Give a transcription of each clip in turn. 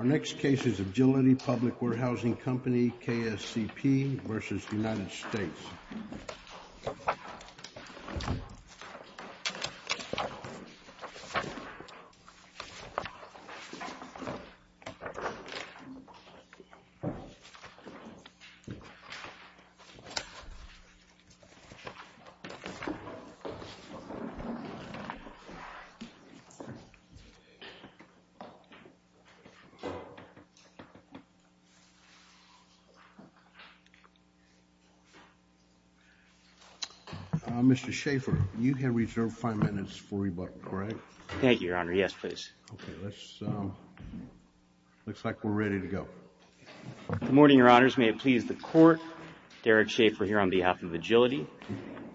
Our next case is Agility Public Warehousing Co. v. United States Mr. Schaffer, you can reserve five minutes for rebuttal, correct? Thank you, Your Honor. Yes, please. Okay. Looks like we're ready to go. Good morning, Your Honors. May it please the Court. Derek Schaffer here on behalf of Agility.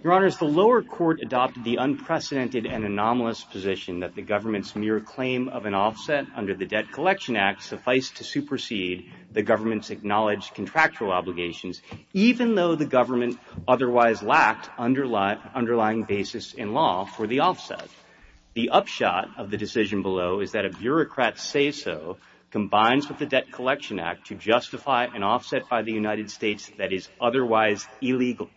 Your Honors, the lower court adopted the unprecedented and anomalous position that the government's mere claim of an offset under the Debt Collection Act suffice to supersede the government's acknowledged contractual obligations, even though the government otherwise lacked underlying basis in law for the offset. The upshot of the decision below is that a bureaucrat's say-so combines with the Debt Collection Act to justify an offset by the United States that is otherwise illegal.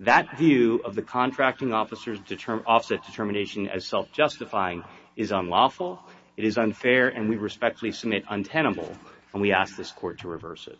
That view of the contracting officer's offset determination as self-justifying is unlawful, it is unfair, and we respectfully submit untenable, and we ask this Court to reverse it.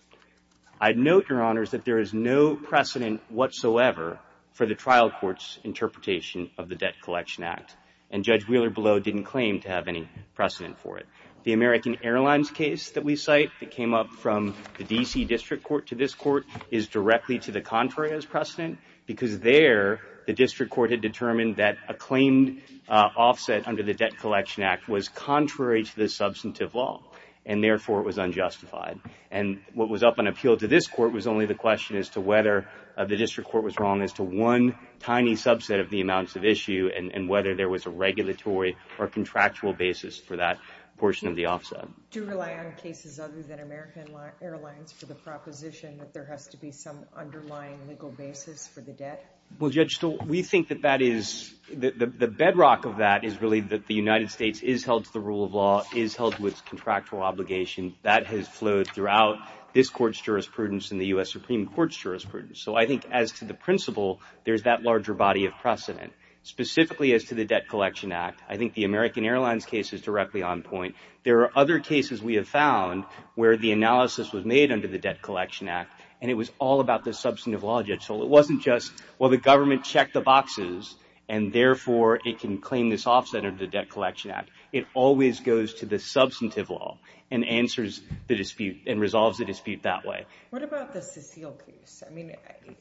I'd note, Your Honors, that there is no precedent whatsoever for the trial court's interpretation of the Debt Collection Act, and Judge Wheeler-Below didn't claim to have any precedent for it. The American Airlines case that we cite that came up from the D.C. District Court to this Court is directly to the contrary as precedent, because there the District Court had determined that a claimed offset under the Debt Collection Act was contrary to the substantive law, and therefore it was unjustified. And what was up on appeal to this Court was only the question as to whether the District Court was wrong as to one tiny subset of the amounts of issue and whether there was a regulatory or contractual basis for that portion of the offset. Do you rely on cases other than American Airlines for the proposition that there has to be some underlying legal basis for the debt? Well, Judge Stuhl, we think that that is, the bedrock of that is really that the United States is held to the rule of law, is held to its contractual obligation. That has flowed throughout this Court's jurisprudence and the U.S. Supreme Court's jurisprudence. So I think as to the principle, there's that larger body of precedent. Specifically as to the Debt Collection Act, I think the American Airlines case is directly on point. There are other cases we have found where the analysis was made under the Debt Collection Act and it was all about the substantive law, Judge Stuhl. It wasn't just, well, the government checked the boxes and therefore it can claim this offset under the Debt Collection Act. It always goes to the substantive law and answers the dispute and resolves the dispute that way. What about the Cecile case? I mean,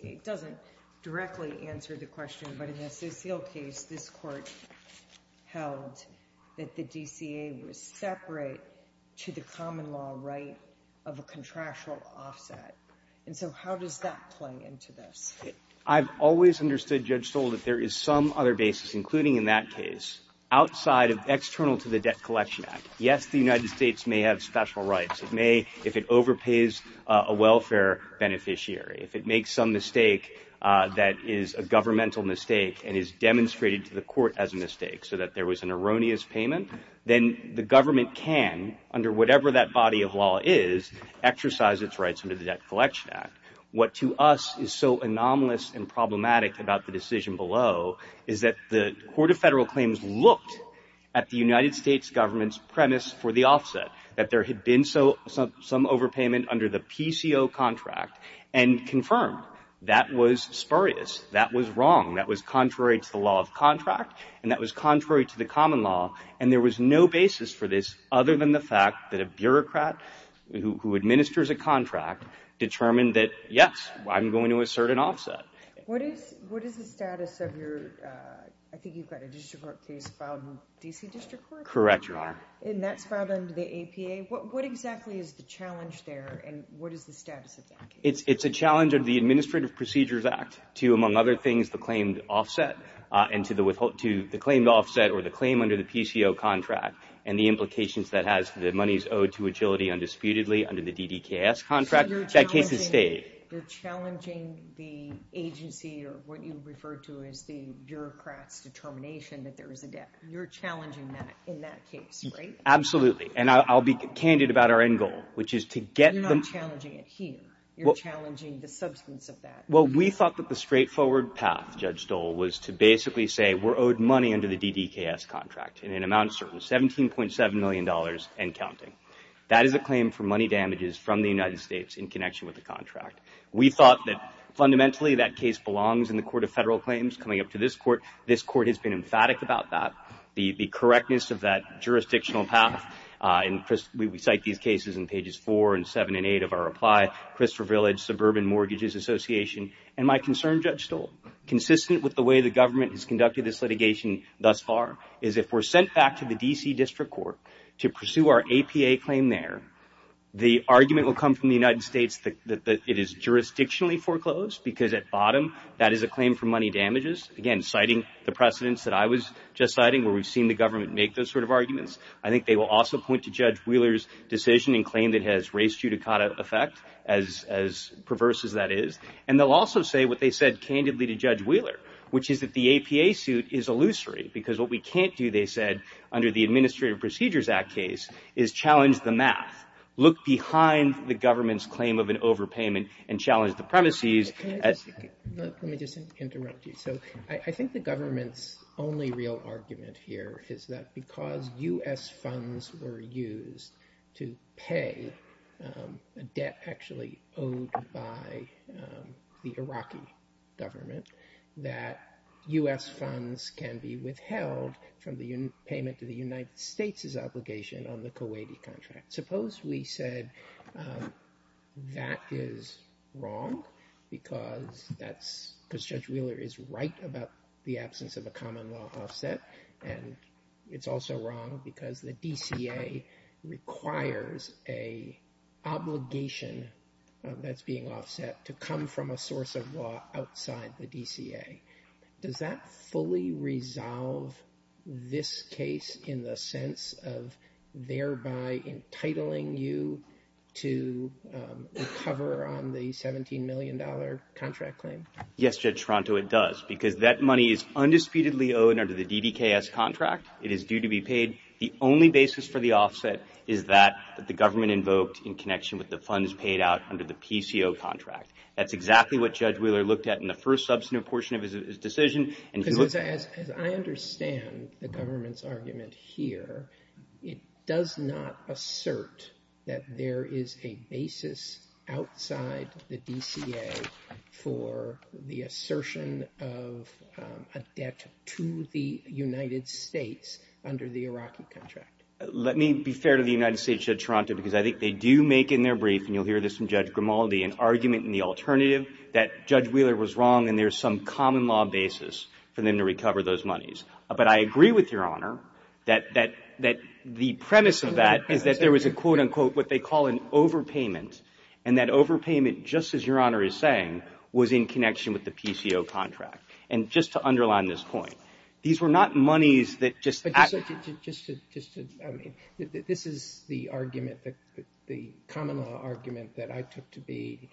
it doesn't directly answer the question, but in the Cecile case, this Court held that the DCA was separate to the common law right of a contractual offset. And so how does that play into this? I've always understood, Judge Stuhl, that there is some other basis, including in that case, outside of external to the Debt Collection Act. Yes, the United States may have special rights. It may, if it overpays a welfare beneficiary, if it makes some mistake that is a governmental mistake and is demonstrated to the court as a mistake so that there was an erroneous payment, then the government can, under whatever that body of law is, exercise its rights under the Debt Collection Act. What to us is so anomalous and problematic about the decision below is that the Court of Federal Claims looked at the United States government's premise for the offset, that there had been some overpayment under the PCO contract and confirmed that was spurious, that was wrong, that was contrary to the law of contract, and that was contrary to the common law, and there was no basis for this other than the fact that a bureaucrat who administers a contract determined that, yes, I'm going to assert an offset. What is the status of your, I think you've got a district court case filed in the D.C. District Court? Correct, Your Honor. And that's filed under the APA. What exactly is the challenge there, and what is the status of that case? It's a challenge of the Administrative Procedures Act to, among other things, the claimed offset and to the claimed offset or the claim under the PCO contract and the implications that has the monies owed to agility undisputedly under the DDKS contract. That case has stayed. So you're challenging the agency or what you refer to as the bureaucrat's determination that there is a debt. You're challenging that in that case, right? Absolutely, and I'll be candid about our end goal, which is to get them. You're not challenging it here. You're challenging the substance of that. Well, we thought that the straightforward path, Judge Dole, was to basically say we're owed money under the DDKS contract in an amount certain, $17.7 million and counting. That is a claim for money damages from the United States in connection with the contract. We thought that fundamentally that case belongs in the Court of Federal Claims coming up to this court. This court has been emphatic about that. The correctness of that jurisdictional path, and we cite these cases in pages 4 and 7 and 8 of our reply, Christopher Village Suburban Mortgages Association, and my concern, Judge Dole, consistent with the way the government has conducted this litigation thus far, is if we're sent back to the D.C. District Court to pursue our APA claim there, the argument will come from the United States that it is jurisdictionally foreclosed because at bottom that is a claim for money damages. Again, citing the precedents that I was just citing where we've seen the government make those sort of arguments. I think they will also point to Judge Wheeler's decision and claim that it has race judicata effect, as perverse as that is. And they'll also say what they said candidly to Judge Wheeler, which is that the APA suit is illusory because what we can't do, they said, under the Administrative Procedures Act case, is challenge the math. Look behind the government's claim of an overpayment and challenge the premises. Let me just interrupt you. So I think the government's only real argument here is that because U.S. funds were used to pay a debt actually owed by the Iraqi government, that U.S. funds can be withheld from the payment to the United States' obligation on the Kuwaiti contract. Suppose we said that is wrong because Judge Wheeler is right about the absence of a common law offset. And it's also wrong because the DCA requires an obligation that's being offset to come from a source of law outside the DCA. Does that fully resolve this case in the sense of thereby entitling you to recover on the $17 million contract claim? Yes, Judge Toronto, it does, because that money is undisputedly owed under the DDKS contract. It is due to be paid. The only basis for the offset is that the government invoked in connection with the funds paid out under the PCO contract. That's exactly what Judge Wheeler looked at in the first substantive portion of his decision. Because as I understand the government's argument here, it does not assert that there is a basis outside the DCA for the assertion of a debt to the United States under the Iraqi contract. Let me be fair to the United States, Judge Toronto, because I think they do make in their brief, and you'll hear this from Judge Grimaldi, an argument in the alternative that Judge Wheeler was wrong and there's some common law basis for them to recover those monies. But I agree with Your Honor that the premise of that is that there was a quote, unquote, what they call an overpayment. And that overpayment, just as Your Honor is saying, was in connection with the PCO contract. And just to underline this point, these were not monies that just… This is the argument, the common law argument that I took to be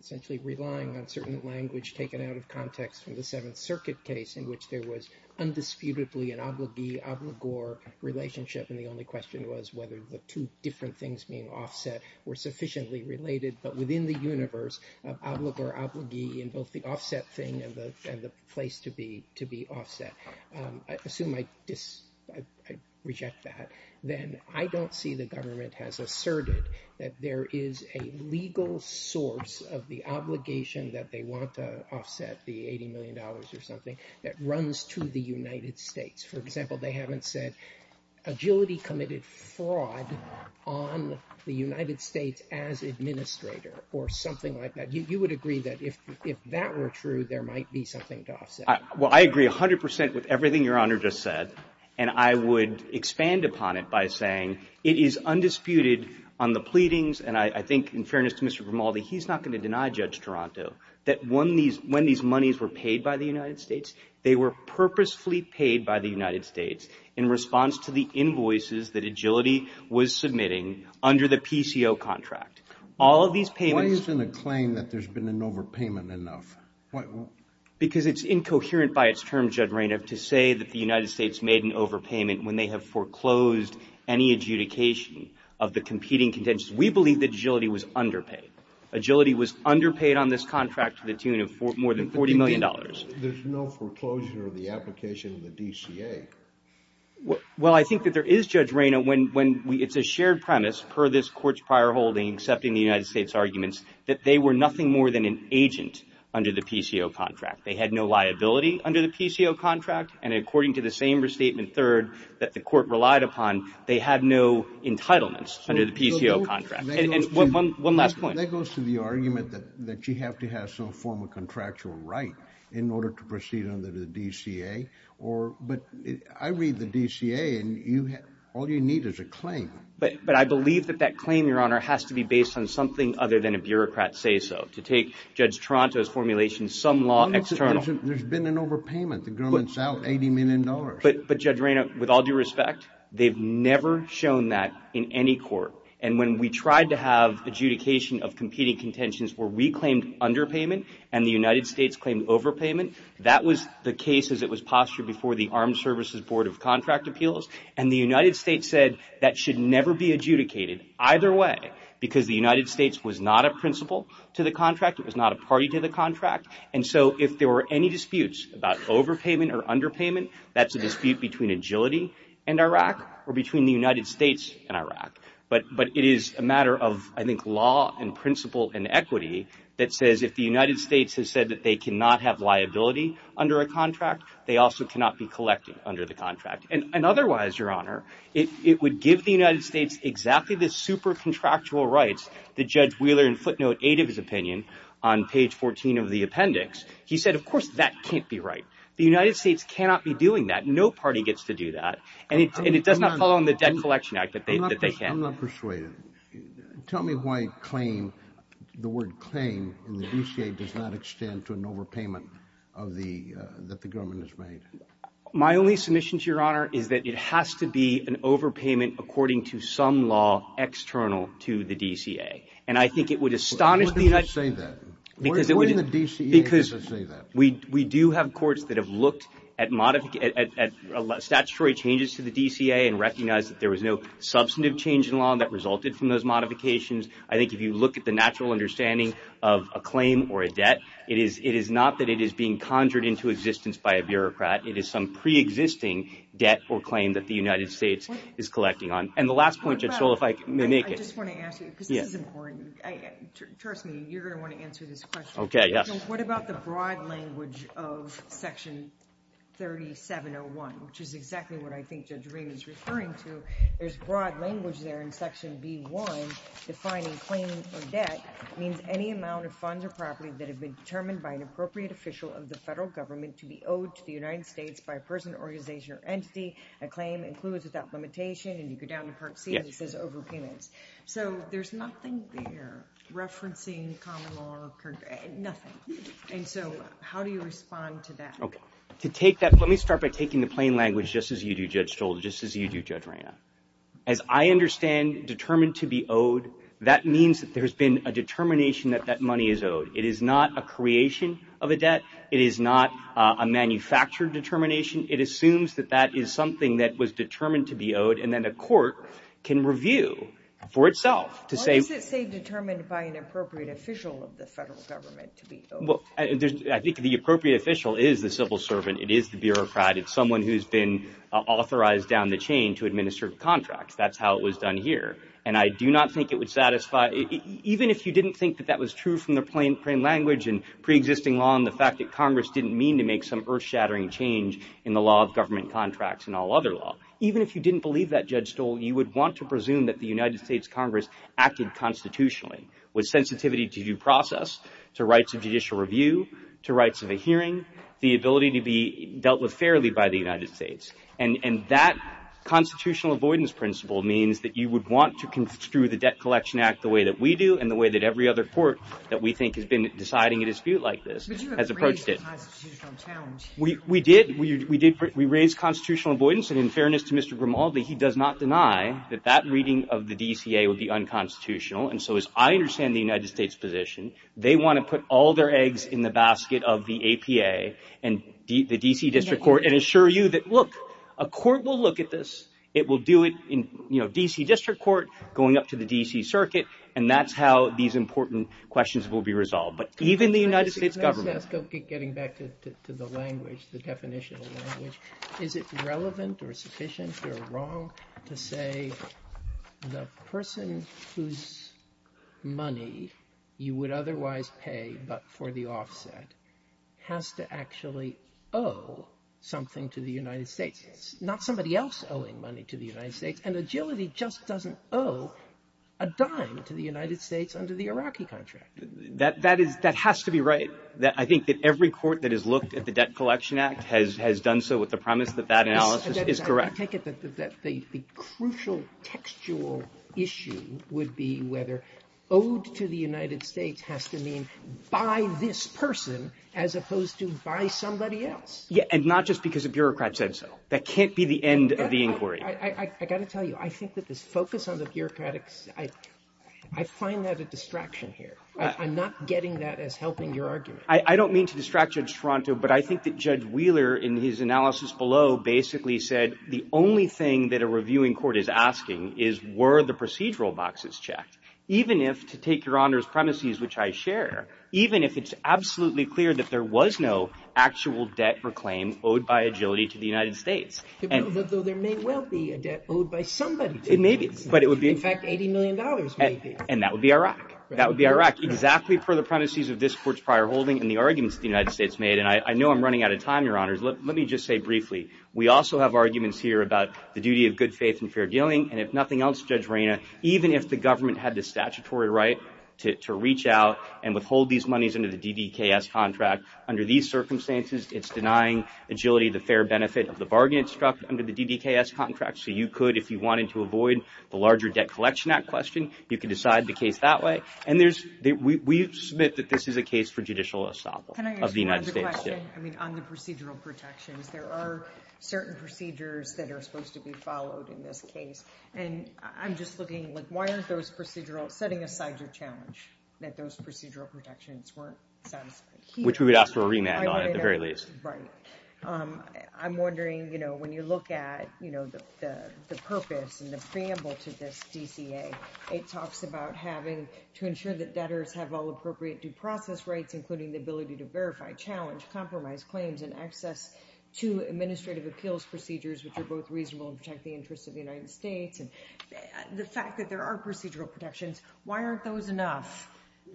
essentially relying on certain language taken out of context from the Seventh Circuit case in which there was undisputedly an obligee, obligor relationship and the only question was whether the two different things being offset were sufficiently related. But within the universe of obligor, obligee and both the offset thing and the place to be offset, I assume I reject that. Then I don't see the government has asserted that there is a legal source of the obligation that they want to offset the $80 million or something that runs to the United States. For example, they haven't said agility committed fraud on the United States as administrator or something like that. You would agree that if that were true, there might be something to offset. Well, I agree 100% with everything Your Honor just said. And I would expand upon it by saying it is undisputed on the pleadings. And I think in fairness to Mr. Grimaldi, he's not going to deny Judge Toronto that when these monies were paid by the United States, they were purposefully paid by the United States in response to the invoices that agility was submitting under the PCO contract. Why isn't a claim that there's been an overpayment enough? Because it's incoherent by its term, Judge Reynolds, to say that the United States made an overpayment when they have foreclosed any adjudication of the competing contentious. We believe that agility was underpaid. Agility was underpaid on this contract to the tune of more than $40 million. There's no foreclosure of the application of the DCA. Well, I think that there is, Judge Reynolds, when it's a shared premise per this court's prior holding accepting the United States arguments that they were nothing more than an agent under the PCO contract. They had no liability under the PCO contract. And according to the same restatement third that the court relied upon, they had no entitlements under the PCO contract. And one last point. That goes to the argument that you have to have some form of contractual right in order to proceed under the DCA. But I read the DCA, and all you need is a claim. But I believe that that claim, Your Honor, has to be based on something other than a bureaucrat say-so. To take Judge Toronto's formulation, some law external. There's been an overpayment. The government's out $80 million. But, Judge Reynolds, with all due respect, they've never shown that in any court. And when we tried to have adjudication of competing contentions where we claimed underpayment and the United States claimed overpayment, that was the case as it was postured before the Armed Services Board of Contract Appeals. And the United States said that should never be adjudicated either way because the United States was not a principal to the contract. It was not a party to the contract. And so if there were any disputes about overpayment or underpayment, that's a dispute between agility and Iraq or between the United States and Iraq. But it is a matter of, I think, law and principle and equity that says if the United States has said that they cannot have liability under a contract, they also cannot be collected under the contract. And otherwise, Your Honor, it would give the United States exactly the super contractual rights that Judge Wheeler in footnote 8 of his opinion on page 14 of the appendix. He said, of course, that can't be right. The United States cannot be doing that. No party gets to do that. And it does not fall on the Debt Collection Act that they can. I'm not persuaded. Tell me why claim, the word claim in the DCA does not extend to an overpayment that the government has made. My only submission to Your Honor is that it has to be an overpayment according to some law external to the DCA. And I think it would astonish the United States. Why does it say that? What in the DCA does it say that? We do have courts that have looked at statutory changes to the DCA and recognize that there was no substantive change in law that resulted from those modifications. I think if you look at the natural understanding of a claim or a debt, it is not that it is being conjured into existence by a bureaucrat. It is some preexisting debt or claim that the United States is collecting on. And the last point, Judge Stoll, if I may make it. I just want to ask you, because this is important. Trust me, you're going to want to answer this question. Okay, yes. What about the broad language of Section 3701, which is exactly what I think Judge Rehm is referring to? There's broad language there in Section B1 defining claim or debt means any amount of funds or property that have been determined by an appropriate official of the federal government to be owed to the United States by a person, organization, or entity. A claim includes without limitation. And you go down to Part C and it says overpayments. So there's nothing there referencing common law or nothing. And so how do you respond to that? Okay. To take that, let me start by taking the plain language just as you do, Judge Stoll, just as you do, Judge Rehm. As I understand determined to be owed, that means that there's been a determination that that money is owed. It is not a creation of a debt. It is not a manufactured determination. It assumes that that is something that was determined to be owed and then a court can review for itself to say. Why does it say determined by an appropriate official of the federal government to be owed? Well, I think the appropriate official is the civil servant. It is the bureaucrat. It's someone who's been authorized down the chain to administer contracts. That's how it was done here. And I do not think it would satisfy. Even if you didn't think that that was true from the plain language and preexisting law and the fact that Congress didn't mean to make some earth-shattering change in the law of government contracts and all other law, even if you didn't believe that, Judge Stoll, you would want to presume that the United States Congress acted constitutionally with sensitivity to due process, to rights of judicial review, to rights of a hearing, the ability to be dealt with fairly by the United States. And that constitutional avoidance principle means that you would want to construe the Debt Collection Act the way that we do and the way that every other court that we think has been deciding a dispute like this has approached it. But you have raised the constitutional challenge. We did. We raised constitutional avoidance. And in fairness to Mr. Grimaldi, he does not deny that that reading of the DCA would be unconstitutional. And so, as I understand the United States' position, they want to put all their eggs in the basket of the APA and the D.C. District Court and assure you that, look, a court will look at this. It will do it in, you know, D.C. District Court, going up to the D.C. Circuit, and that's how these important questions will be resolved. But even the United States government. Can I just ask, getting back to the language, the definition of language, is it relevant or sufficient or wrong to say the person whose money you would otherwise pay but for the offset has to actually owe something to the United States? It's not somebody else owing money to the United States. And agility just doesn't owe a dime to the United States under the Iraqi contract. That has to be right. I think that every court that has looked at the Debt Collection Act has done so with the premise that that analysis is correct. I take it that the crucial textual issue would be whether owed to the United States has to mean by this person as opposed to by somebody else. Yeah, and not just because a bureaucrat said so. That can't be the end of the inquiry. I got to tell you, I think that this focus on the bureaucratics, I find that a distraction here. I'm not getting that as helping your argument. I don't mean to distract Judge Toronto, but I think that Judge Wheeler in his analysis below basically said the only thing that a reviewing court is asking is were the procedural boxes checked? Even if, to take your Honor's premises, which I share, even if it's absolutely clear that there was no actual debt or claim owed by agility to the United States. Though there may well be a debt owed by somebody. It may be. In fact, $80 million may be. And that would be Iraq. That would be Iraq, exactly per the premises of this court's prior holding and the arguments that the United States made. And I know I'm running out of time, Your Honor. Let me just say briefly, we also have arguments here about the duty of good faith and fair dealing. And if nothing else, Judge Reyna, even if the government had the statutory right to reach out and withhold these monies under the DDKS contract, under these circumstances, it's denying agility the fair benefit of the bargain it struck under the DDKS contract. So you could, if you wanted to avoid the larger Debt Collection Act question, you could decide the case that way. And we submit that this is a case for judicial estoppel of the United States. Can I ask you another question? I mean, on the procedural protections. There are certain procedures that are supposed to be followed in this case. And I'm just looking, like, why aren't those procedural, setting aside your challenge, that those procedural protections weren't satisfied? Which we would ask for a remand on at the very least. Right. I'm wondering, you know, when you look at, you know, the purpose and the preamble to this DCA, it talks about having to ensure that debtors have all appropriate due process rights, including the ability to verify, challenge, compromise claims, and access to administrative appeals procedures, which are both reasonable and protect the interests of the United States. And the fact that there are procedural protections, why aren't those enough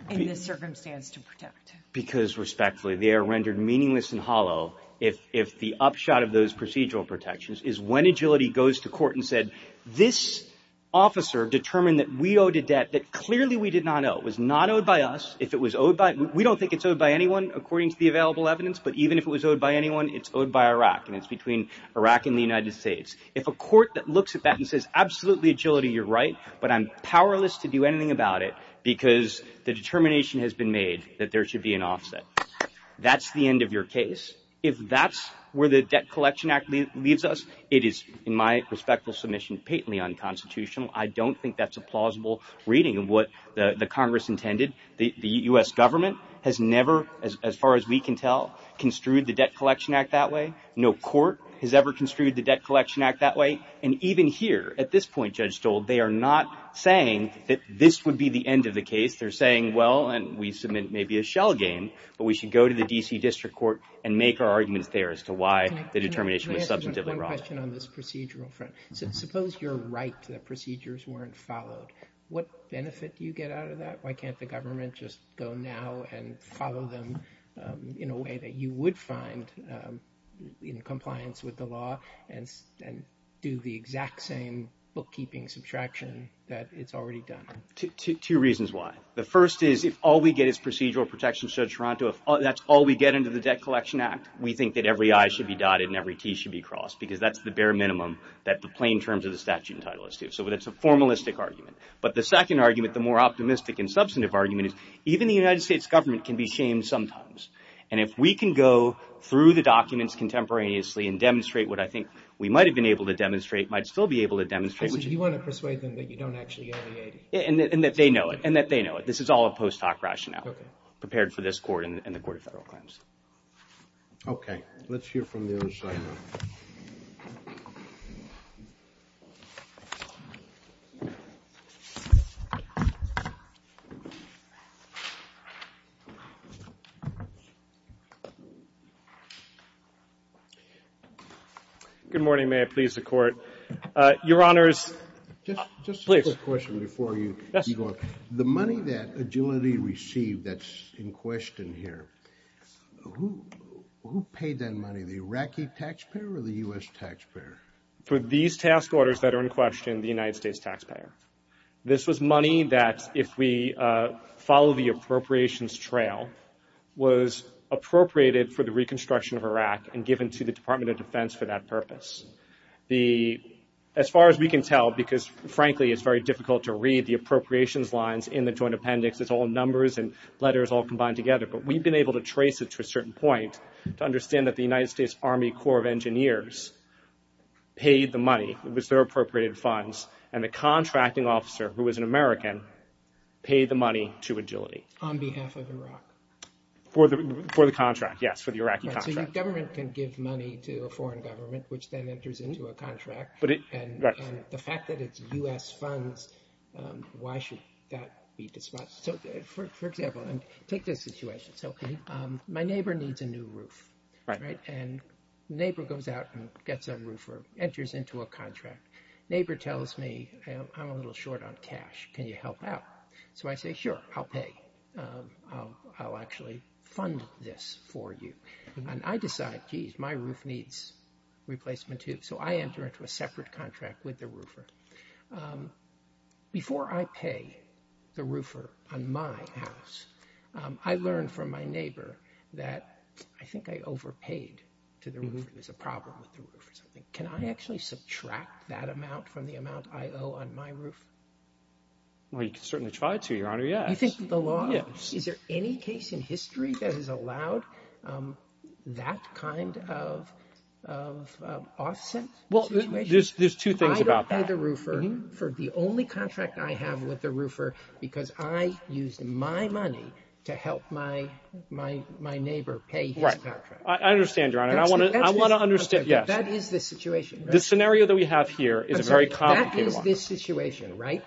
in this circumstance to protect? Because, respectfully, they are rendered meaningless and hollow if the upshot of those procedural protections is when agility goes to court and said, this officer determined that we owed a debt that clearly we did not owe. It was not owed by us. If it was owed by, we don't think it's owed by anyone, according to the available evidence. But even if it was owed by anyone, it's owed by Iraq, and it's between Iraq and the United States. If a court that looks at that and says, absolutely, agility, you're right, but I'm powerless to do anything about it because the determination has been made that there should be an offset. That's the end of your case. If that's where the Debt Collection Act leaves us, it is, in my respectful submission, patently unconstitutional. I don't think that's a plausible reading of what the Congress intended. The U.S. government has never, as far as we can tell, construed the Debt Collection Act that way. No court has ever construed the Debt Collection Act that way. And even here, at this point, Judge Stoll, they are not saying that this would be the end of the case. They're saying, well, and we submit maybe a shell game, but we should go to the D.C. District Court and make our arguments there as to why the determination was substantively wrong. Can I ask one question on this procedural front? Suppose you're right that procedures weren't followed. What benefit do you get out of that? Why can't the government just go now and follow them in a way that you would find in compliance with the law and do the exact same bookkeeping subtraction that it's already done? Two reasons why. The first is, if all we get is procedural protections, Judge Toronto, if that's all we get under the Debt Collection Act, we think that every I should be dotted and every T should be crossed, because that's the bare minimum that the plain terms of the statute entitle us to. So that's a formalistic argument. But the second argument, the more optimistic and substantive argument, is even the United States government can be shamed sometimes. And if we can go through the documents contemporaneously and demonstrate what I think we might have been able to demonstrate, might still be able to demonstrate. So you want to persuade them that you don't actually own the 80? And that they know it. And that they know it. This is all a post hoc rationale prepared for this Court and the Court of Federal Claims. Okay. Let's hear from the other side now. Good morning. May I please the Court? Your Honors, please. Just a quick question before you go on. The money that Agility received that's in question here, who paid that money? The Iraqi taxpayer or the U.S. taxpayer? For these task orders that are in question, the United States taxpayer. This was money that, if we follow the appropriations trail, was appropriated for the reconstruction of Iraq and given to the Department of Defense for that purpose. As far as we can tell, because frankly it's very difficult to read the appropriations lines in the Joint Appendix. It's all numbers and letters all combined together. But we've been able to trace it to a certain point to understand that the United States Army Corps of Engineers paid the money. It was their appropriated funds. And the contracting officer, who was an American, paid the money to Agility. On behalf of Iraq? For the contract, yes, for the Iraqi contract. So your government can give money to a foreign government, which then enters into a contract. And the fact that it's U.S. funds, why should that be disposed of? For example, take this situation. My neighbor needs a new roof. And the neighbor goes out and gets a roofer, enters into a contract. The neighbor tells me, I'm a little short on cash, can you help out? So I say, sure, I'll pay. I'll actually fund this for you. And I decide, geez, my roof needs replacement, too. So I enter into a separate contract with the roofer. Before I pay the roofer on my house, I learn from my neighbor that I think I overpaid to the roofer. There's a problem with the roofer. Can I actually subtract that amount from the amount I owe on my roof? Well, you can certainly try to, Your Honor, yes. Is there any case in history that has allowed that kind of offset situation? There's two things about that. I don't pay the roofer for the only contract I have with the roofer because I used my money to help my neighbor pay his contract. I understand, Your Honor. I want to understand, yes. That is the situation. The scenario that we have here is a very complicated one. That is this situation, right?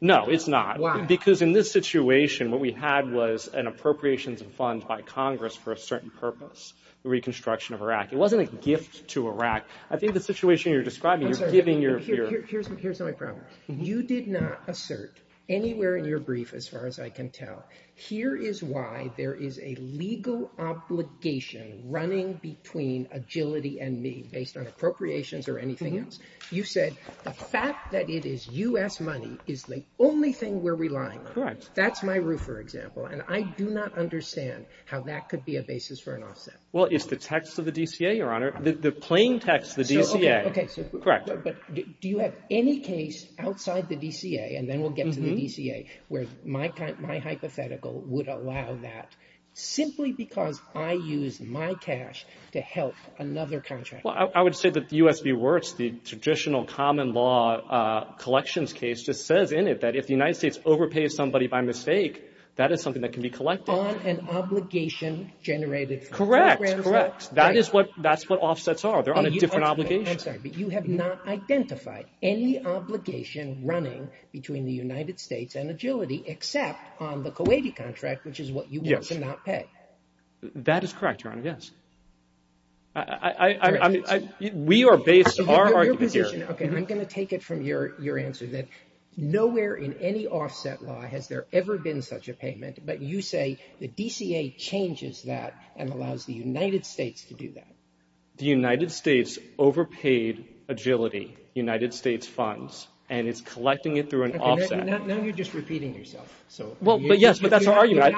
No, it's not. Why? Because in this situation, what we had was an appropriations fund by Congress for a certain purpose, the reconstruction of Iraq. It wasn't a gift to Iraq. I think the situation you're describing, you're giving your— I'm sorry. Here's my problem. You did not assert anywhere in your brief, as far as I can tell, here is why there is a legal obligation running between Agility and me based on appropriations or anything else. You said the fact that it is U.S. money is the only thing we're relying on. Correct. That's my roofer example, and I do not understand how that could be a basis for an offset. Well, it's the text of the DCA, Your Honor, the plain text of the DCA. Okay. Correct. But do you have any case outside the DCA, and then we'll get to the DCA, where my hypothetical would allow that simply because I used my cash to help another contractor? Well, I would say that U.S. v. Wirtz, the traditional common law collections case, just says in it that if the United States overpays somebody by mistake, that is something that can be collected. On an obligation generated from programs? Correct, correct. That is what offsets are. They're on a different obligation. I'm sorry, but you have not identified any obligation running between the United States and Agility except on the Kuwaiti contract, which is what you want to not pay. That is correct, Your Honor, yes. We are based on our argument here. Okay, I'm going to take it from your answer that nowhere in any offset law has there ever been such a payment, but you say the DCA changes that and allows the United States to do that. The United States overpaid Agility United States funds, and it's collecting it through an offset. Okay, now you're just repeating yourself. Well, yes, but that's our argument.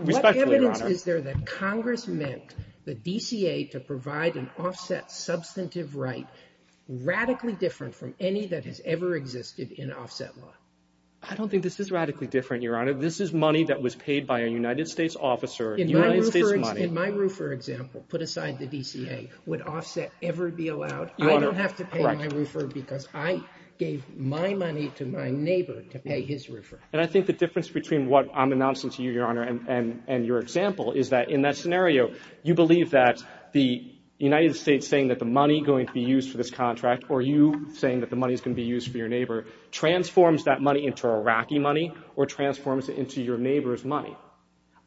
Respectfully, Your Honor. Is there that Congress meant the DCA to provide an offset substantive right radically different from any that has ever existed in offset law? I don't think this is radically different, Your Honor. This is money that was paid by a United States officer, United States money. In my roofer example, put aside the DCA, would offset ever be allowed? Your Honor, correct. I don't have to pay my roofer because I gave my money to my neighbor to pay his roofer. And I think the difference between what I'm announcing to you, Your Honor, and your example is that in that scenario, you believe that the United States saying that the money going to be used for this contract or you saying that the money is going to be used for your neighbor transforms that money into Iraqi money or transforms it into your neighbor's money.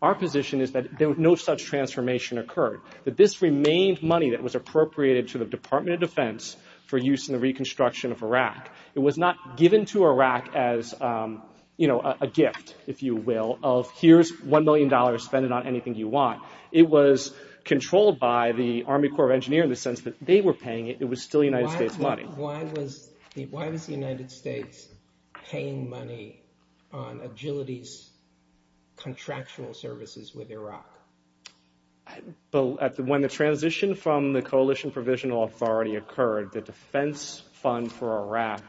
Our position is that no such transformation occurred, that this remained money that was appropriated to the Department of Defense for use in the reconstruction of Iraq. It was not given to Iraq as a gift, if you will, of here's $1 million, spend it on anything you want. It was controlled by the Army Corps of Engineers in the sense that they were paying it. It was still United States money. Why was the United States paying money on agility's contractual services with Iraq? When the transition from the Coalition Provisional Authority occurred, the defense fund for Iraq,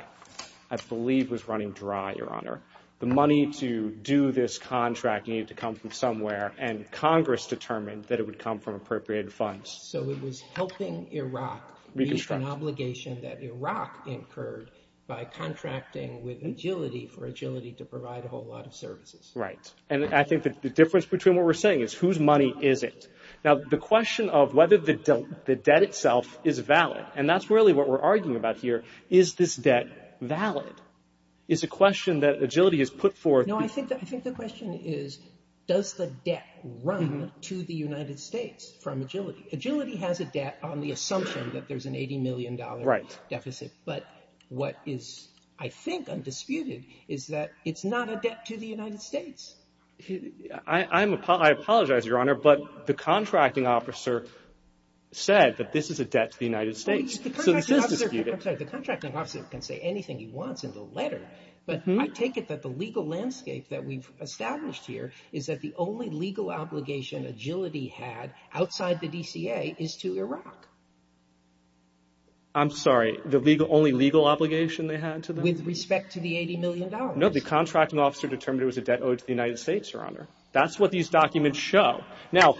I believe, was running dry, Your Honor. The money to do this contract needed to come from somewhere, and Congress determined that it would come from appropriated funds. So it was helping Iraq meet an obligation that Iraq incurred by contracting with agility for agility to provide a whole lot of services. Right, and I think that the difference between what we're saying is whose money is it? Now, the question of whether the debt itself is valid, and that's really what we're arguing about here, is this debt valid? It's a question that agility has put forth. No, I think the question is, does the debt run to the United States from agility? Agility has a debt on the assumption that there's an $80 million deficit, but what is, I think, undisputed is that it's not a debt to the United States. I apologize, Your Honor, but the contracting officer said that this is a debt to the United States, so this is disputed. The contracting officer can say anything he wants in the letter, but I take it that the legal landscape that we've established here is that the only legal obligation agility had outside the DCA is to Iraq. I'm sorry, the only legal obligation they had to Iraq? With respect to the $80 million. No, the contracting officer determined it was a debt owed to the United States, Your Honor. That's what these documents show. Now,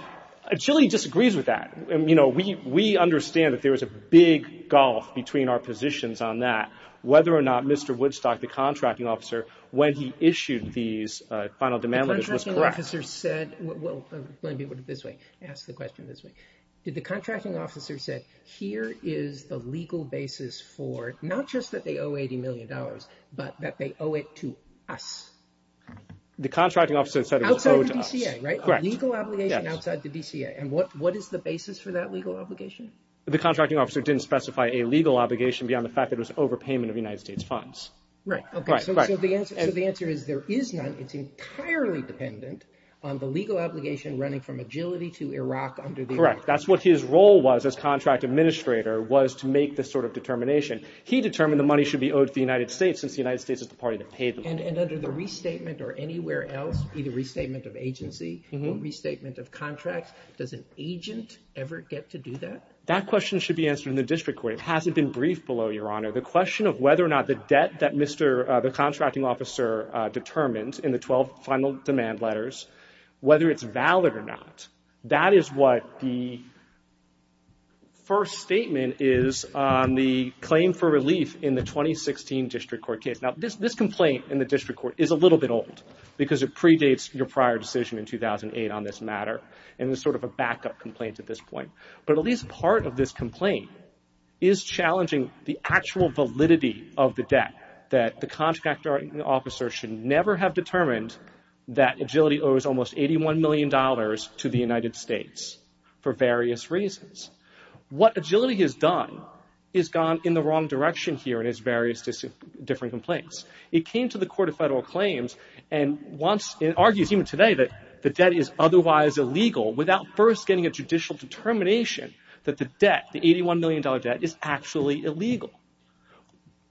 agility disagrees with that. You know, we understand that there was a big gulf between our positions on that, whether or not Mr. Woodstock, the contracting officer, when he issued these final demand letters, was correct. The contracting officer said, well, let me put it this way, ask the question this way. Did the contracting officer said, here is the legal basis for not just that they owe $80 million, but that they owe it to us? The contracting officer said it was owed to us. Outside the DCA, right? Correct. A legal obligation outside the DCA. And what is the basis for that legal obligation? The contracting officer didn't specify a legal obligation beyond the fact that it was overpayment of United States funds. Right. Right, right. So the answer is there is none. It's entirely dependent on the legal obligation running from agility to Iraq. Correct. That's what his role was as contract administrator was to make this sort of determination. He determined the money should be owed to the United States since the United States is the party that paid them. And under the restatement or anywhere else, either restatement of agency, restatement of contracts, does an agent ever get to do that? That question should be answered in the district court. It hasn't been briefed below, Your Honor. The question of whether or not the debt that the contracting officer determined in the 12 final demand letters, whether it's valid or not, that is what the first statement is on the claim for relief in the 2016 district court case. Now, this complaint in the district court is a little bit old because it predates your prior decision in 2008 on this matter. And it's sort of a backup complaint at this point. But at least part of this complaint is challenging the actual validity of the debt, that the contracting officer should never have determined that agility owes almost $81 million to the United States for various reasons. What agility has done is gone in the wrong direction here in its various different complaints. It came to the Court of Federal Claims and once it argues even today that the debt is otherwise illegal without first getting a judicial determination that the debt, the $81 million debt, is actually illegal.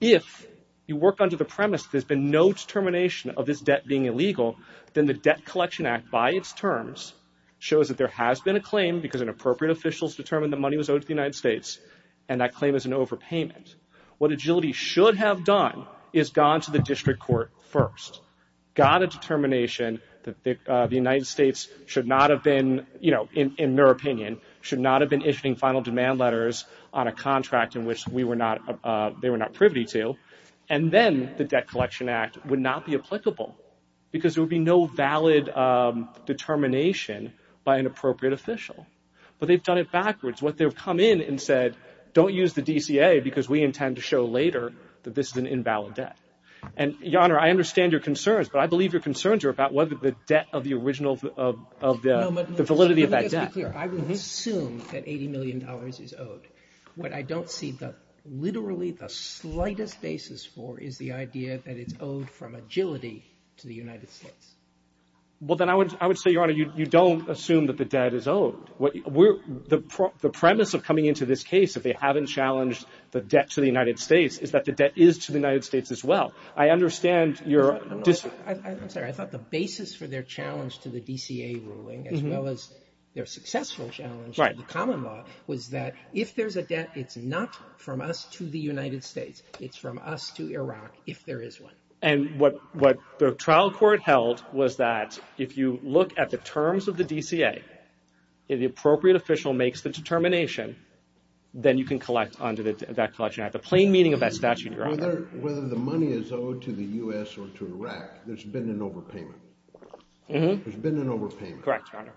If you work under the premise there's been no determination of this debt being illegal, then the Debt Collection Act by its terms shows that there has been a claim because an appropriate official has determined the money was owed to the United States, and that claim is an overpayment. What agility should have done is gone to the district court first, got a determination that the United States should not have been, you know, in their opinion, should not have been issuing final demand letters on a contract in which we were not, they were not privy to, and then the Debt Collection Act would not be applicable because there would be no valid determination by an appropriate official. But they've done it backwards. What they've come in and said, don't use the DCA because we intend to show later that this is an invalid debt. And, Your Honor, I understand your concerns, but I believe your concerns are about whether the debt of the original of the validity of that debt. Let me just be clear. I would assume that $80 million is owed. What I don't see literally the slightest basis for is the idea that it's owed from agility to the United States. Well, then I would say, Your Honor, you don't assume that the debt is owed. The premise of coming into this case, if they haven't challenged the debt to the United States, is that the debt is to the United States as well. I understand your... I'm sorry. I thought the basis for their challenge to the DCA ruling as well as their successful challenge to the common law was that if there's a debt, it's not from us to the United States. It's from us to Iraq if there is one. And what the trial court held was that if you look at the terms of the DCA, if the appropriate official makes the determination, then you can collect under that collection act the plain meaning of that statute, Your Honor. Whether the money is owed to the U.S. or to Iraq, there's been an overpayment. Mm-hmm. There's been an overpayment. Correct, Your Honor.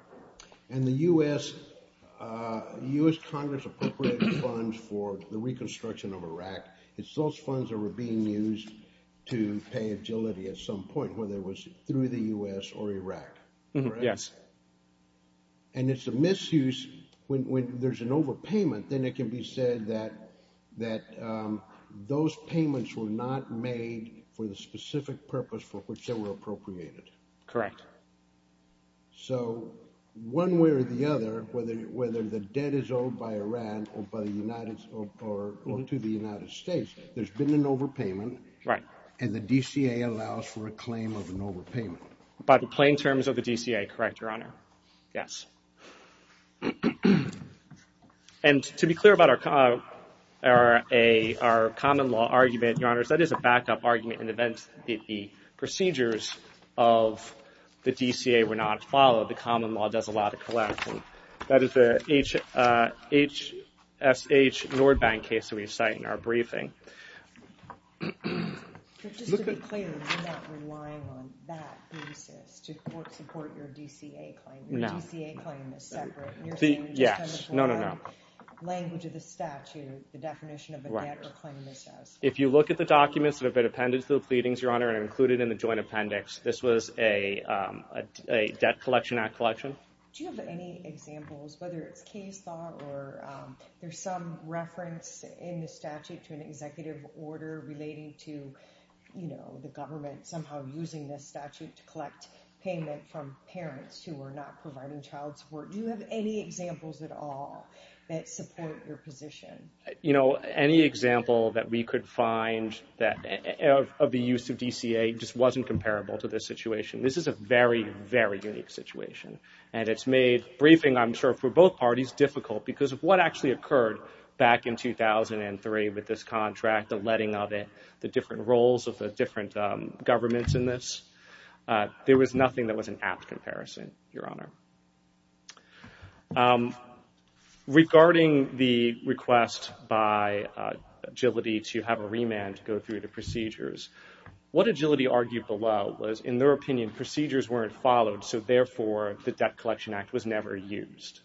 It's those funds that were being used to pay agility at some point, whether it was through the U.S. or Iraq. Yes. And it's a misuse. When there's an overpayment, then it can be said that those payments were not made for the specific purpose for which they were appropriated. Correct. So one way or the other, whether the debt is owed by Iran or to the United States, there's been an overpayment. Right. And the DCA allows for a claim of an overpayment. By the plain terms of the DCA, correct, Your Honor. Yes. And to be clear about our common law argument, Your Honors, that is a backup argument in the event that the procedures of the DCA were not followed. The common law does allow the collection. That is the HSH Nordbank case that we cite in our briefing. Just to be clear, you're not relying on that thesis to support your DCA claim. No. Your DCA claim is separate. Yes. No, no, no. Language of the statute, the definition of a debt or claim is separate. If you look at the documents that have been appended to the pleadings, Your Honor, and included in the joint appendix, this was a Debt Collection Act collection. Do you have any examples, whether it's case law or there's some reference in the statute to an executive order relating to, you know, the government somehow using this statute to collect payment from parents who are not providing child support. Do you have any examples at all that support your position? You know, any example that we could find of the use of DCA just wasn't comparable to this situation. This is a very, very unique situation. And it's made briefing, I'm sure, for both parties difficult because of what actually occurred back in 2003 with this contract, the letting of it, the different roles of the different governments in this. There was nothing that was an apt comparison, Your Honor. Regarding the request by Agility to have a remand to go through the procedures, what Agility argued below was, in their opinion, procedures weren't followed, so, therefore, the Debt Collection Act was never used.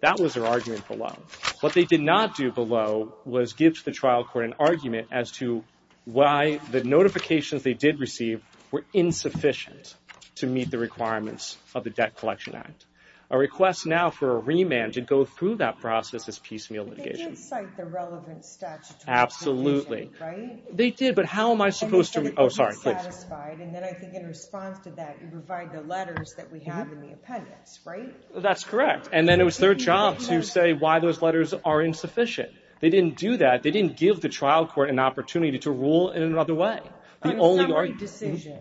That was their argument below. What they did not do below was give to the trial court an argument as to why the notifications they did receive were insufficient to meet the requirements of the Debt Collection Act. A request now for a remand to go through that process is piecemeal litigation. They didn't cite the relevant statutes. Absolutely. Right? They did, but how am I supposed to? Oh, sorry, please. And then I think in response to that, you provide the letters that we have in the appendix, right? That's correct. And then it was their job to say why those letters are insufficient. They didn't do that. They didn't give the trial court an opportunity to rule in another way. Well, on a summary decision,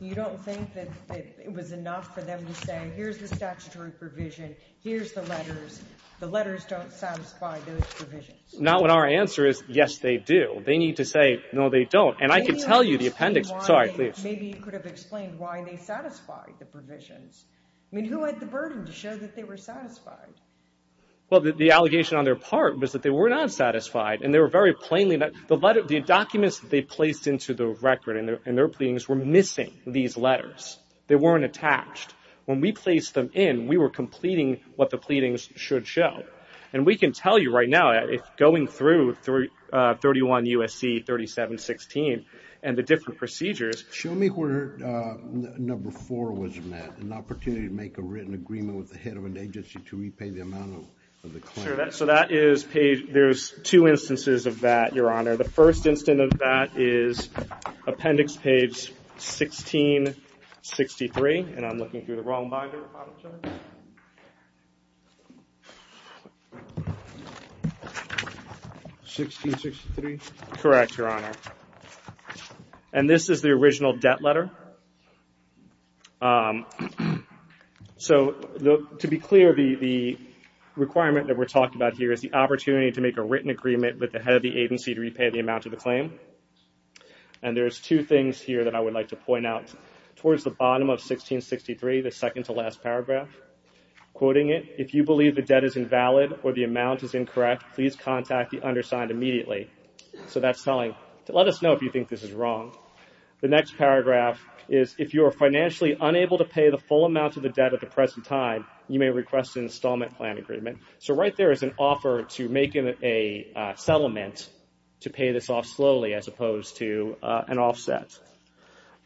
you don't think that it was enough for them to say, here's the statutory provision, here's the letters. The letters don't satisfy those provisions. Not when our answer is, yes, they do. They need to say, no, they don't. And I can tell you the appendix. Sorry, please. Maybe you could have explained why they satisfied the provisions. I mean, who had the burden to show that they were satisfied? Well, the allegation on their part was that they were not satisfied, and they were very plainly that the documents that they placed into the record and their pleadings were missing these letters. They weren't attached. When we placed them in, we were completing what the pleadings should show. And we can tell you right now, going through 31 U.S.C. 3716 and the different procedures. Show me where number four was met, an opportunity to make a written agreement with the head of an agency to repay the amount of the claim. So that is page – there's two instances of that, Your Honor. The first instance of that is appendix page 1663. And I'm looking through the wrong binder. 1663? Correct, Your Honor. And this is the original debt letter. So to be clear, the requirement that we're talking about here is the opportunity to make a written agreement with the head of the agency to repay the amount of the claim. And there's two things here that I would like to point out. Towards the bottom of 1663, the second to last paragraph, quoting it, if you believe the debt is invalid or the amount is incorrect, please contact the undersigned immediately. So that's telling – let us know if you think this is wrong. The next paragraph is if you are financially unable to pay the full amount of the debt at the present time, you may request an installment plan agreement. So right there is an offer to make a settlement to pay this off slowly as opposed to an offset.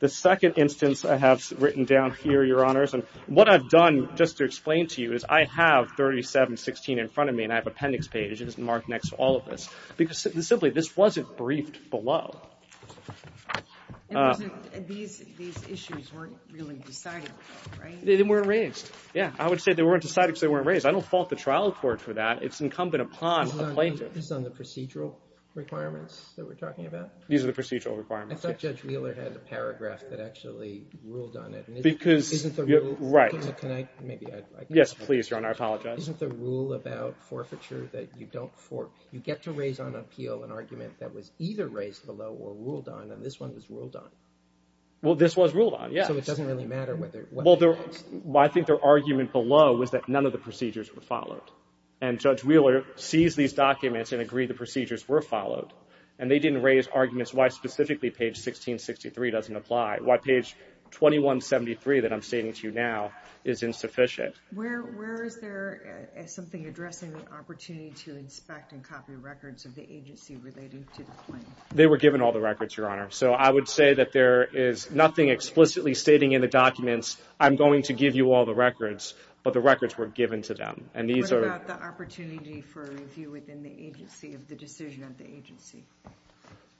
The second instance I have written down here, Your Honors, and what I've done just to explain to you is I have 3716 in front of me and I have appendix pages marked next to all of this. Because simply this wasn't briefed below. And these issues weren't really decided, right? They weren't raised. Yeah, I would say they weren't decided because they weren't raised. I don't fault the trial court for that. It's incumbent upon a plaintiff. Is this on the procedural requirements that we're talking about? These are the procedural requirements. I thought Judge Wheeler had a paragraph that actually ruled on it. Can I – maybe I – Yes, please, Your Honor, I apologize. But isn't the rule about forfeiture that you don't – you get to raise on appeal an argument that was either raised below or ruled on, and this one was ruled on. Well, this was ruled on, yes. So it doesn't really matter whether – Well, I think their argument below was that none of the procedures were followed. And Judge Wheeler sees these documents and agreed the procedures were followed, and they didn't raise arguments why specifically page 1663 doesn't apply, why page 2173 that I'm stating to you now is insufficient. Where is there something addressing the opportunity to inspect and copy records of the agency related to the claim? They were given all the records, Your Honor. So I would say that there is nothing explicitly stating in the documents, I'm going to give you all the records, but the records were given to them. And these are – What about the opportunity for review within the agency of the decision of the agency?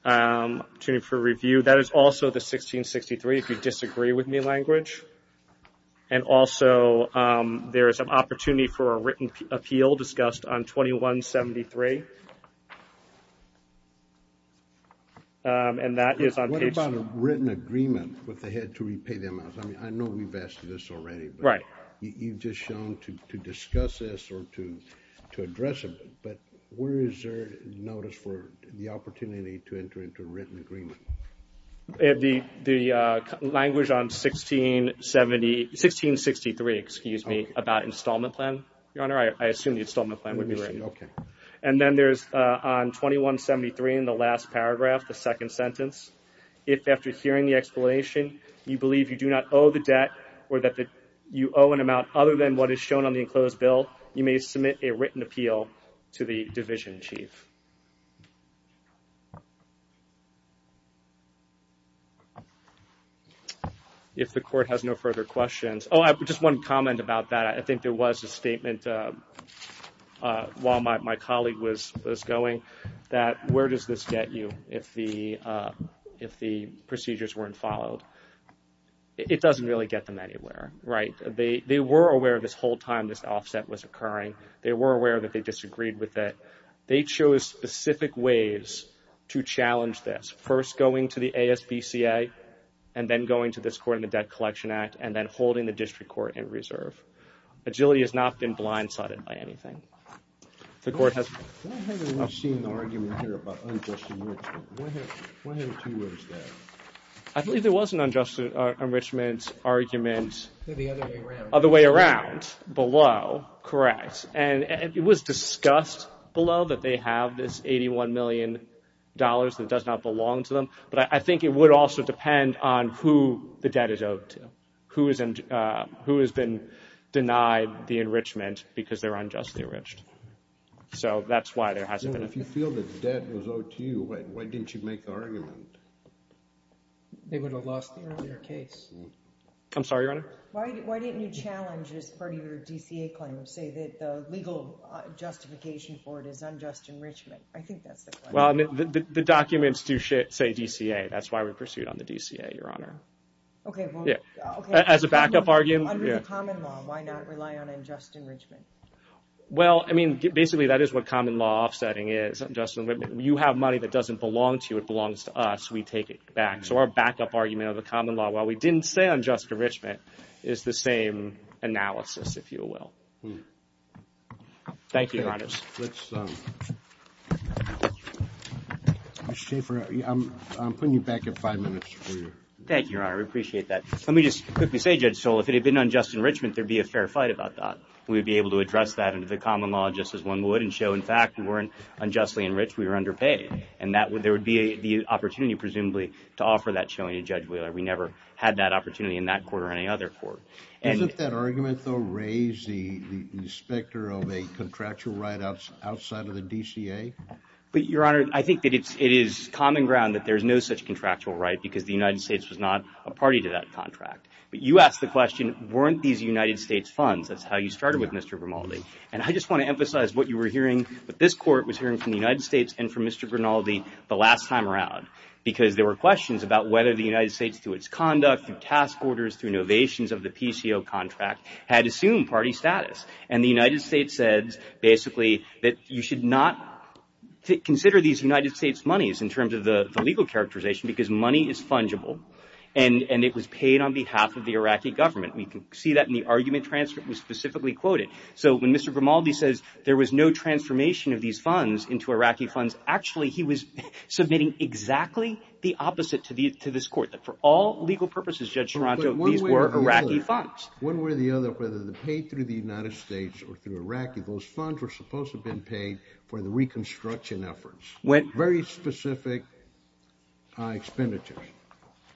Opportunity for review, that is also the 1663, if you disagree with me, language. And also there is an opportunity for a written appeal discussed on 2173. And that is on page – What about a written agreement with the head to repay them? I mean, I know we've asked this already. Right. You've just shown to discuss this or to address it, but where is there notice for the opportunity to enter into a written agreement? The language on 1670 – 1663, excuse me, about installment plan, Your Honor. I assume the installment plan would be written. Okay. And then there's on 2173 in the last paragraph, the second sentence, if after hearing the explanation you believe you do not owe the debt or that you owe an amount other than what is shown on the enclosed bill, you may submit a written appeal to the division chief. If the court has no further questions – Oh, just one comment about that. I think there was a statement while my colleague was going that where does this get you if the procedures weren't followed? It doesn't really get them anywhere, right? They were aware this whole time this offset was occurring. They were aware that they disagreed with it. They chose specific ways to challenge this, first going to the ASBCA and then going to this court in the Debt Collection Act and then holding the district court in reserve. Agility has not been blindsided by anything. Why haven't we seen an argument here about unjust enrichment? Why haven't you raised that? I believe there was an unjust enrichment argument. The other way around. Other way around, below, correct. And it was discussed below that they have this $81 million that does not belong to them, but I think it would also depend on who the debt is owed to, who has been denied the enrichment because they're unjustly enriched. So that's why there hasn't been – If you feel the debt was owed to you, why didn't you make the argument? They would have lost the earlier case. I'm sorry, Your Honor? Why didn't you challenge, as part of your DCA claim, say that the legal justification for it is unjust enrichment? I think that's the claim. Well, the documents do say DCA. That's why we pursued on the DCA, Your Honor. Okay. As a backup argument. Under the common law, why not rely on unjust enrichment? Well, I mean, basically that is what common law offsetting is. You have money that doesn't belong to you. It belongs to us. We take it back. So our backup argument under the common law, while we didn't say unjust enrichment, is the same analysis, if you will. Thank you, Your Honors. Let's – Mr. Schaffer, I'm putting you back at five minutes. Thank you, Your Honor. We appreciate that. Let me just quickly say, Judge Stoll, if it had been unjust enrichment, there would be a fair fight about that. We would be able to address that under the common law just as one would and show, in fact, we weren't unjustly enriched. We were underpaid. And there would be the opportunity, presumably, to offer that showing to Judge Wheeler. We never had that opportunity in that court or any other court. Isn't that argument, though, raise the specter of a contractual right outside of the DCA? But, Your Honor, I think that it is common ground that there is no such contractual right because the United States was not a party to that contract. But you asked the question, weren't these United States funds? That's how you started with Mr. Grimaldi. And I just want to emphasize what you were hearing, what this court was hearing from the United States and from Mr. Grimaldi the last time around because there were questions about whether the United States, through its conduct, through task orders, through innovations of the PCO contract, had assumed party status. And the United States said, basically, that you should not consider these United States monies in terms of the legal characterization because money is fungible, and it was paid on behalf of the Iraqi government. We can see that in the argument transcript that was specifically quoted. So when Mr. Grimaldi says there was no transformation of these funds into Iraqi funds, actually he was submitting exactly the opposite to this court, that for all legal purposes, Judge Toronto, these were Iraqi funds. One way or the other, whether they're paid through the United States or through Iraqi, those funds were supposed to have been paid for the reconstruction efforts. Very specific expenditures.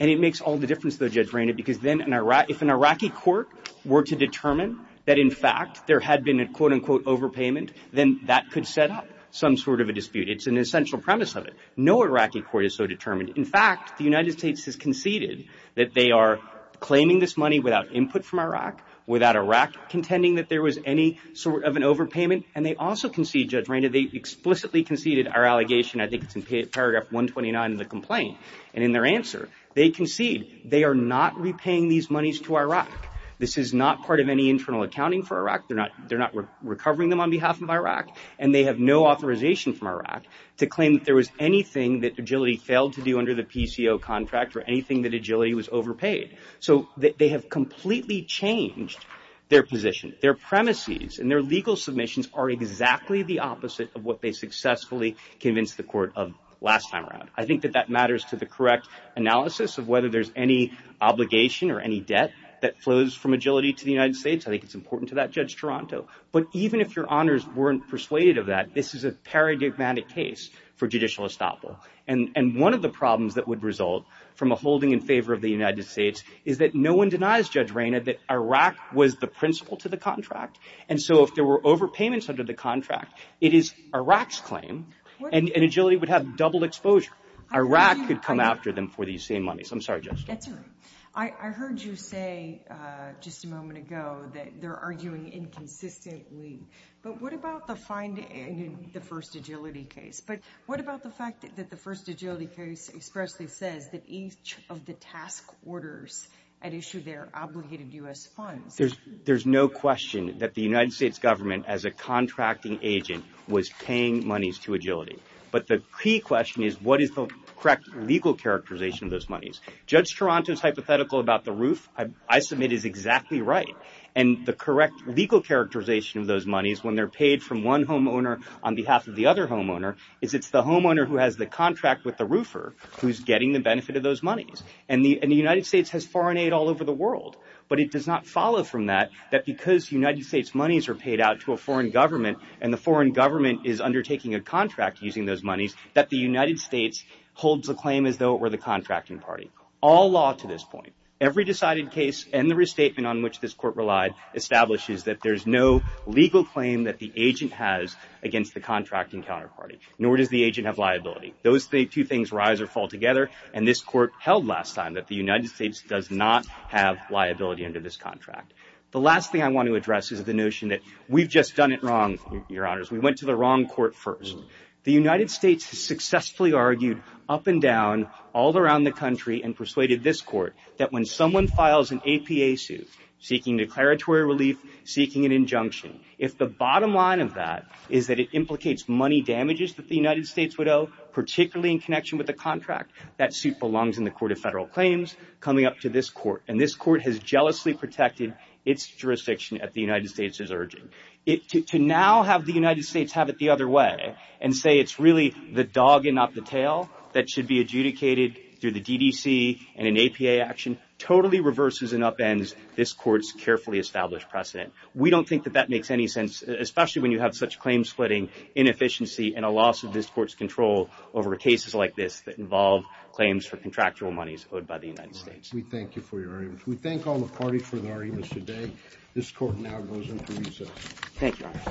And it makes all the difference, though, Judge Rainey, because then if an Iraqi court were to determine that, in fact, there had been a quote-unquote overpayment, then that could set up some sort of a dispute. It's an essential premise of it. No Iraqi court is so determined. In fact, the United States has conceded that they are claiming this money without input from Iraq, without Iraq contending that there was any sort of an overpayment, and they also concede, Judge Rainey, they explicitly conceded our allegation, I think it's in paragraph 129 of the complaint, and in their answer, they concede they are not repaying these monies to Iraq. This is not part of any internal accounting for Iraq. They're not recovering them on behalf of Iraq, and they have no authorization from Iraq to claim that there was anything that Agility failed to do under the PCO contract or anything that Agility was overpaid. So they have completely changed their position. Their premises and their legal submissions are exactly the opposite of what they successfully convinced the court of last time around. I think that that matters to the correct analysis of whether there's any obligation or any debt that flows from Agility to the United States. I think it's important to that, Judge Toronto. But even if your honors weren't persuaded of that, this is a paradigmatic case for judicial estoppel. And one of the problems that would result from a holding in favor of the United States is that no one denies, Judge Rainey, that Iraq was the principal to the contract, and so if there were overpayments under the contract, it is Iraq's claim, and Agility would have double exposure. Iraq could come after them for these same monies. I'm sorry, Judge. That's all right. I heard you say just a moment ago that they're arguing inconsistently, but what about the finding in the first Agility case? But what about the fact that the first Agility case expressly says that each of the task orders had issued their obligated U.S. funds? There's no question that the United States government, as a contracting agent, was paying monies to Agility. But the key question is what is the correct legal characterization of those monies. Judge Toronto's hypothetical about the roof, I submit, is exactly right. And the correct legal characterization of those monies, when they're paid from one homeowner on behalf of the other homeowner, is it's the homeowner who has the contract with the roofer who's getting the benefit of those monies. And the United States has foreign aid all over the world, but it does not follow from that that because United States monies are paid out to a foreign government and the foreign government is undertaking a contract using those monies, that the United States holds the claim as though it were the contracting party. All law to this point, every decided case and the restatement on which this court relied, establishes that there's no legal claim that the agent has against the contracting counterparty, nor does the agent have liability. Those two things rise or fall together, and this court held last time that the United States does not have liability under this contract. The last thing I want to address is the notion that we've just done it wrong, Your Honors. We went to the wrong court first. The United States has successfully argued up and down all around the country and persuaded this court that when someone files an APA suit, seeking declaratory relief, seeking an injunction, if the bottom line of that is that it implicates money damages that the United States would owe, particularly in connection with the contract, that suit belongs in the Court of Federal Claims coming up to this court. And this court has jealously protected its jurisdiction at the United States' urging. To now have the United States have it the other way and say it's really the dog and not the tail that should be adjudicated through the DDC and an APA action, totally reverses and upends this court's carefully established precedent. We don't think that that makes any sense, especially when you have such claim splitting, inefficiency, and a loss of this court's control over cases like this that involve claims for contractual monies owed by the United States. We thank you for your arguments. We thank all the parties for their arguments today. This court now goes into recess. Thank you, Your Honors.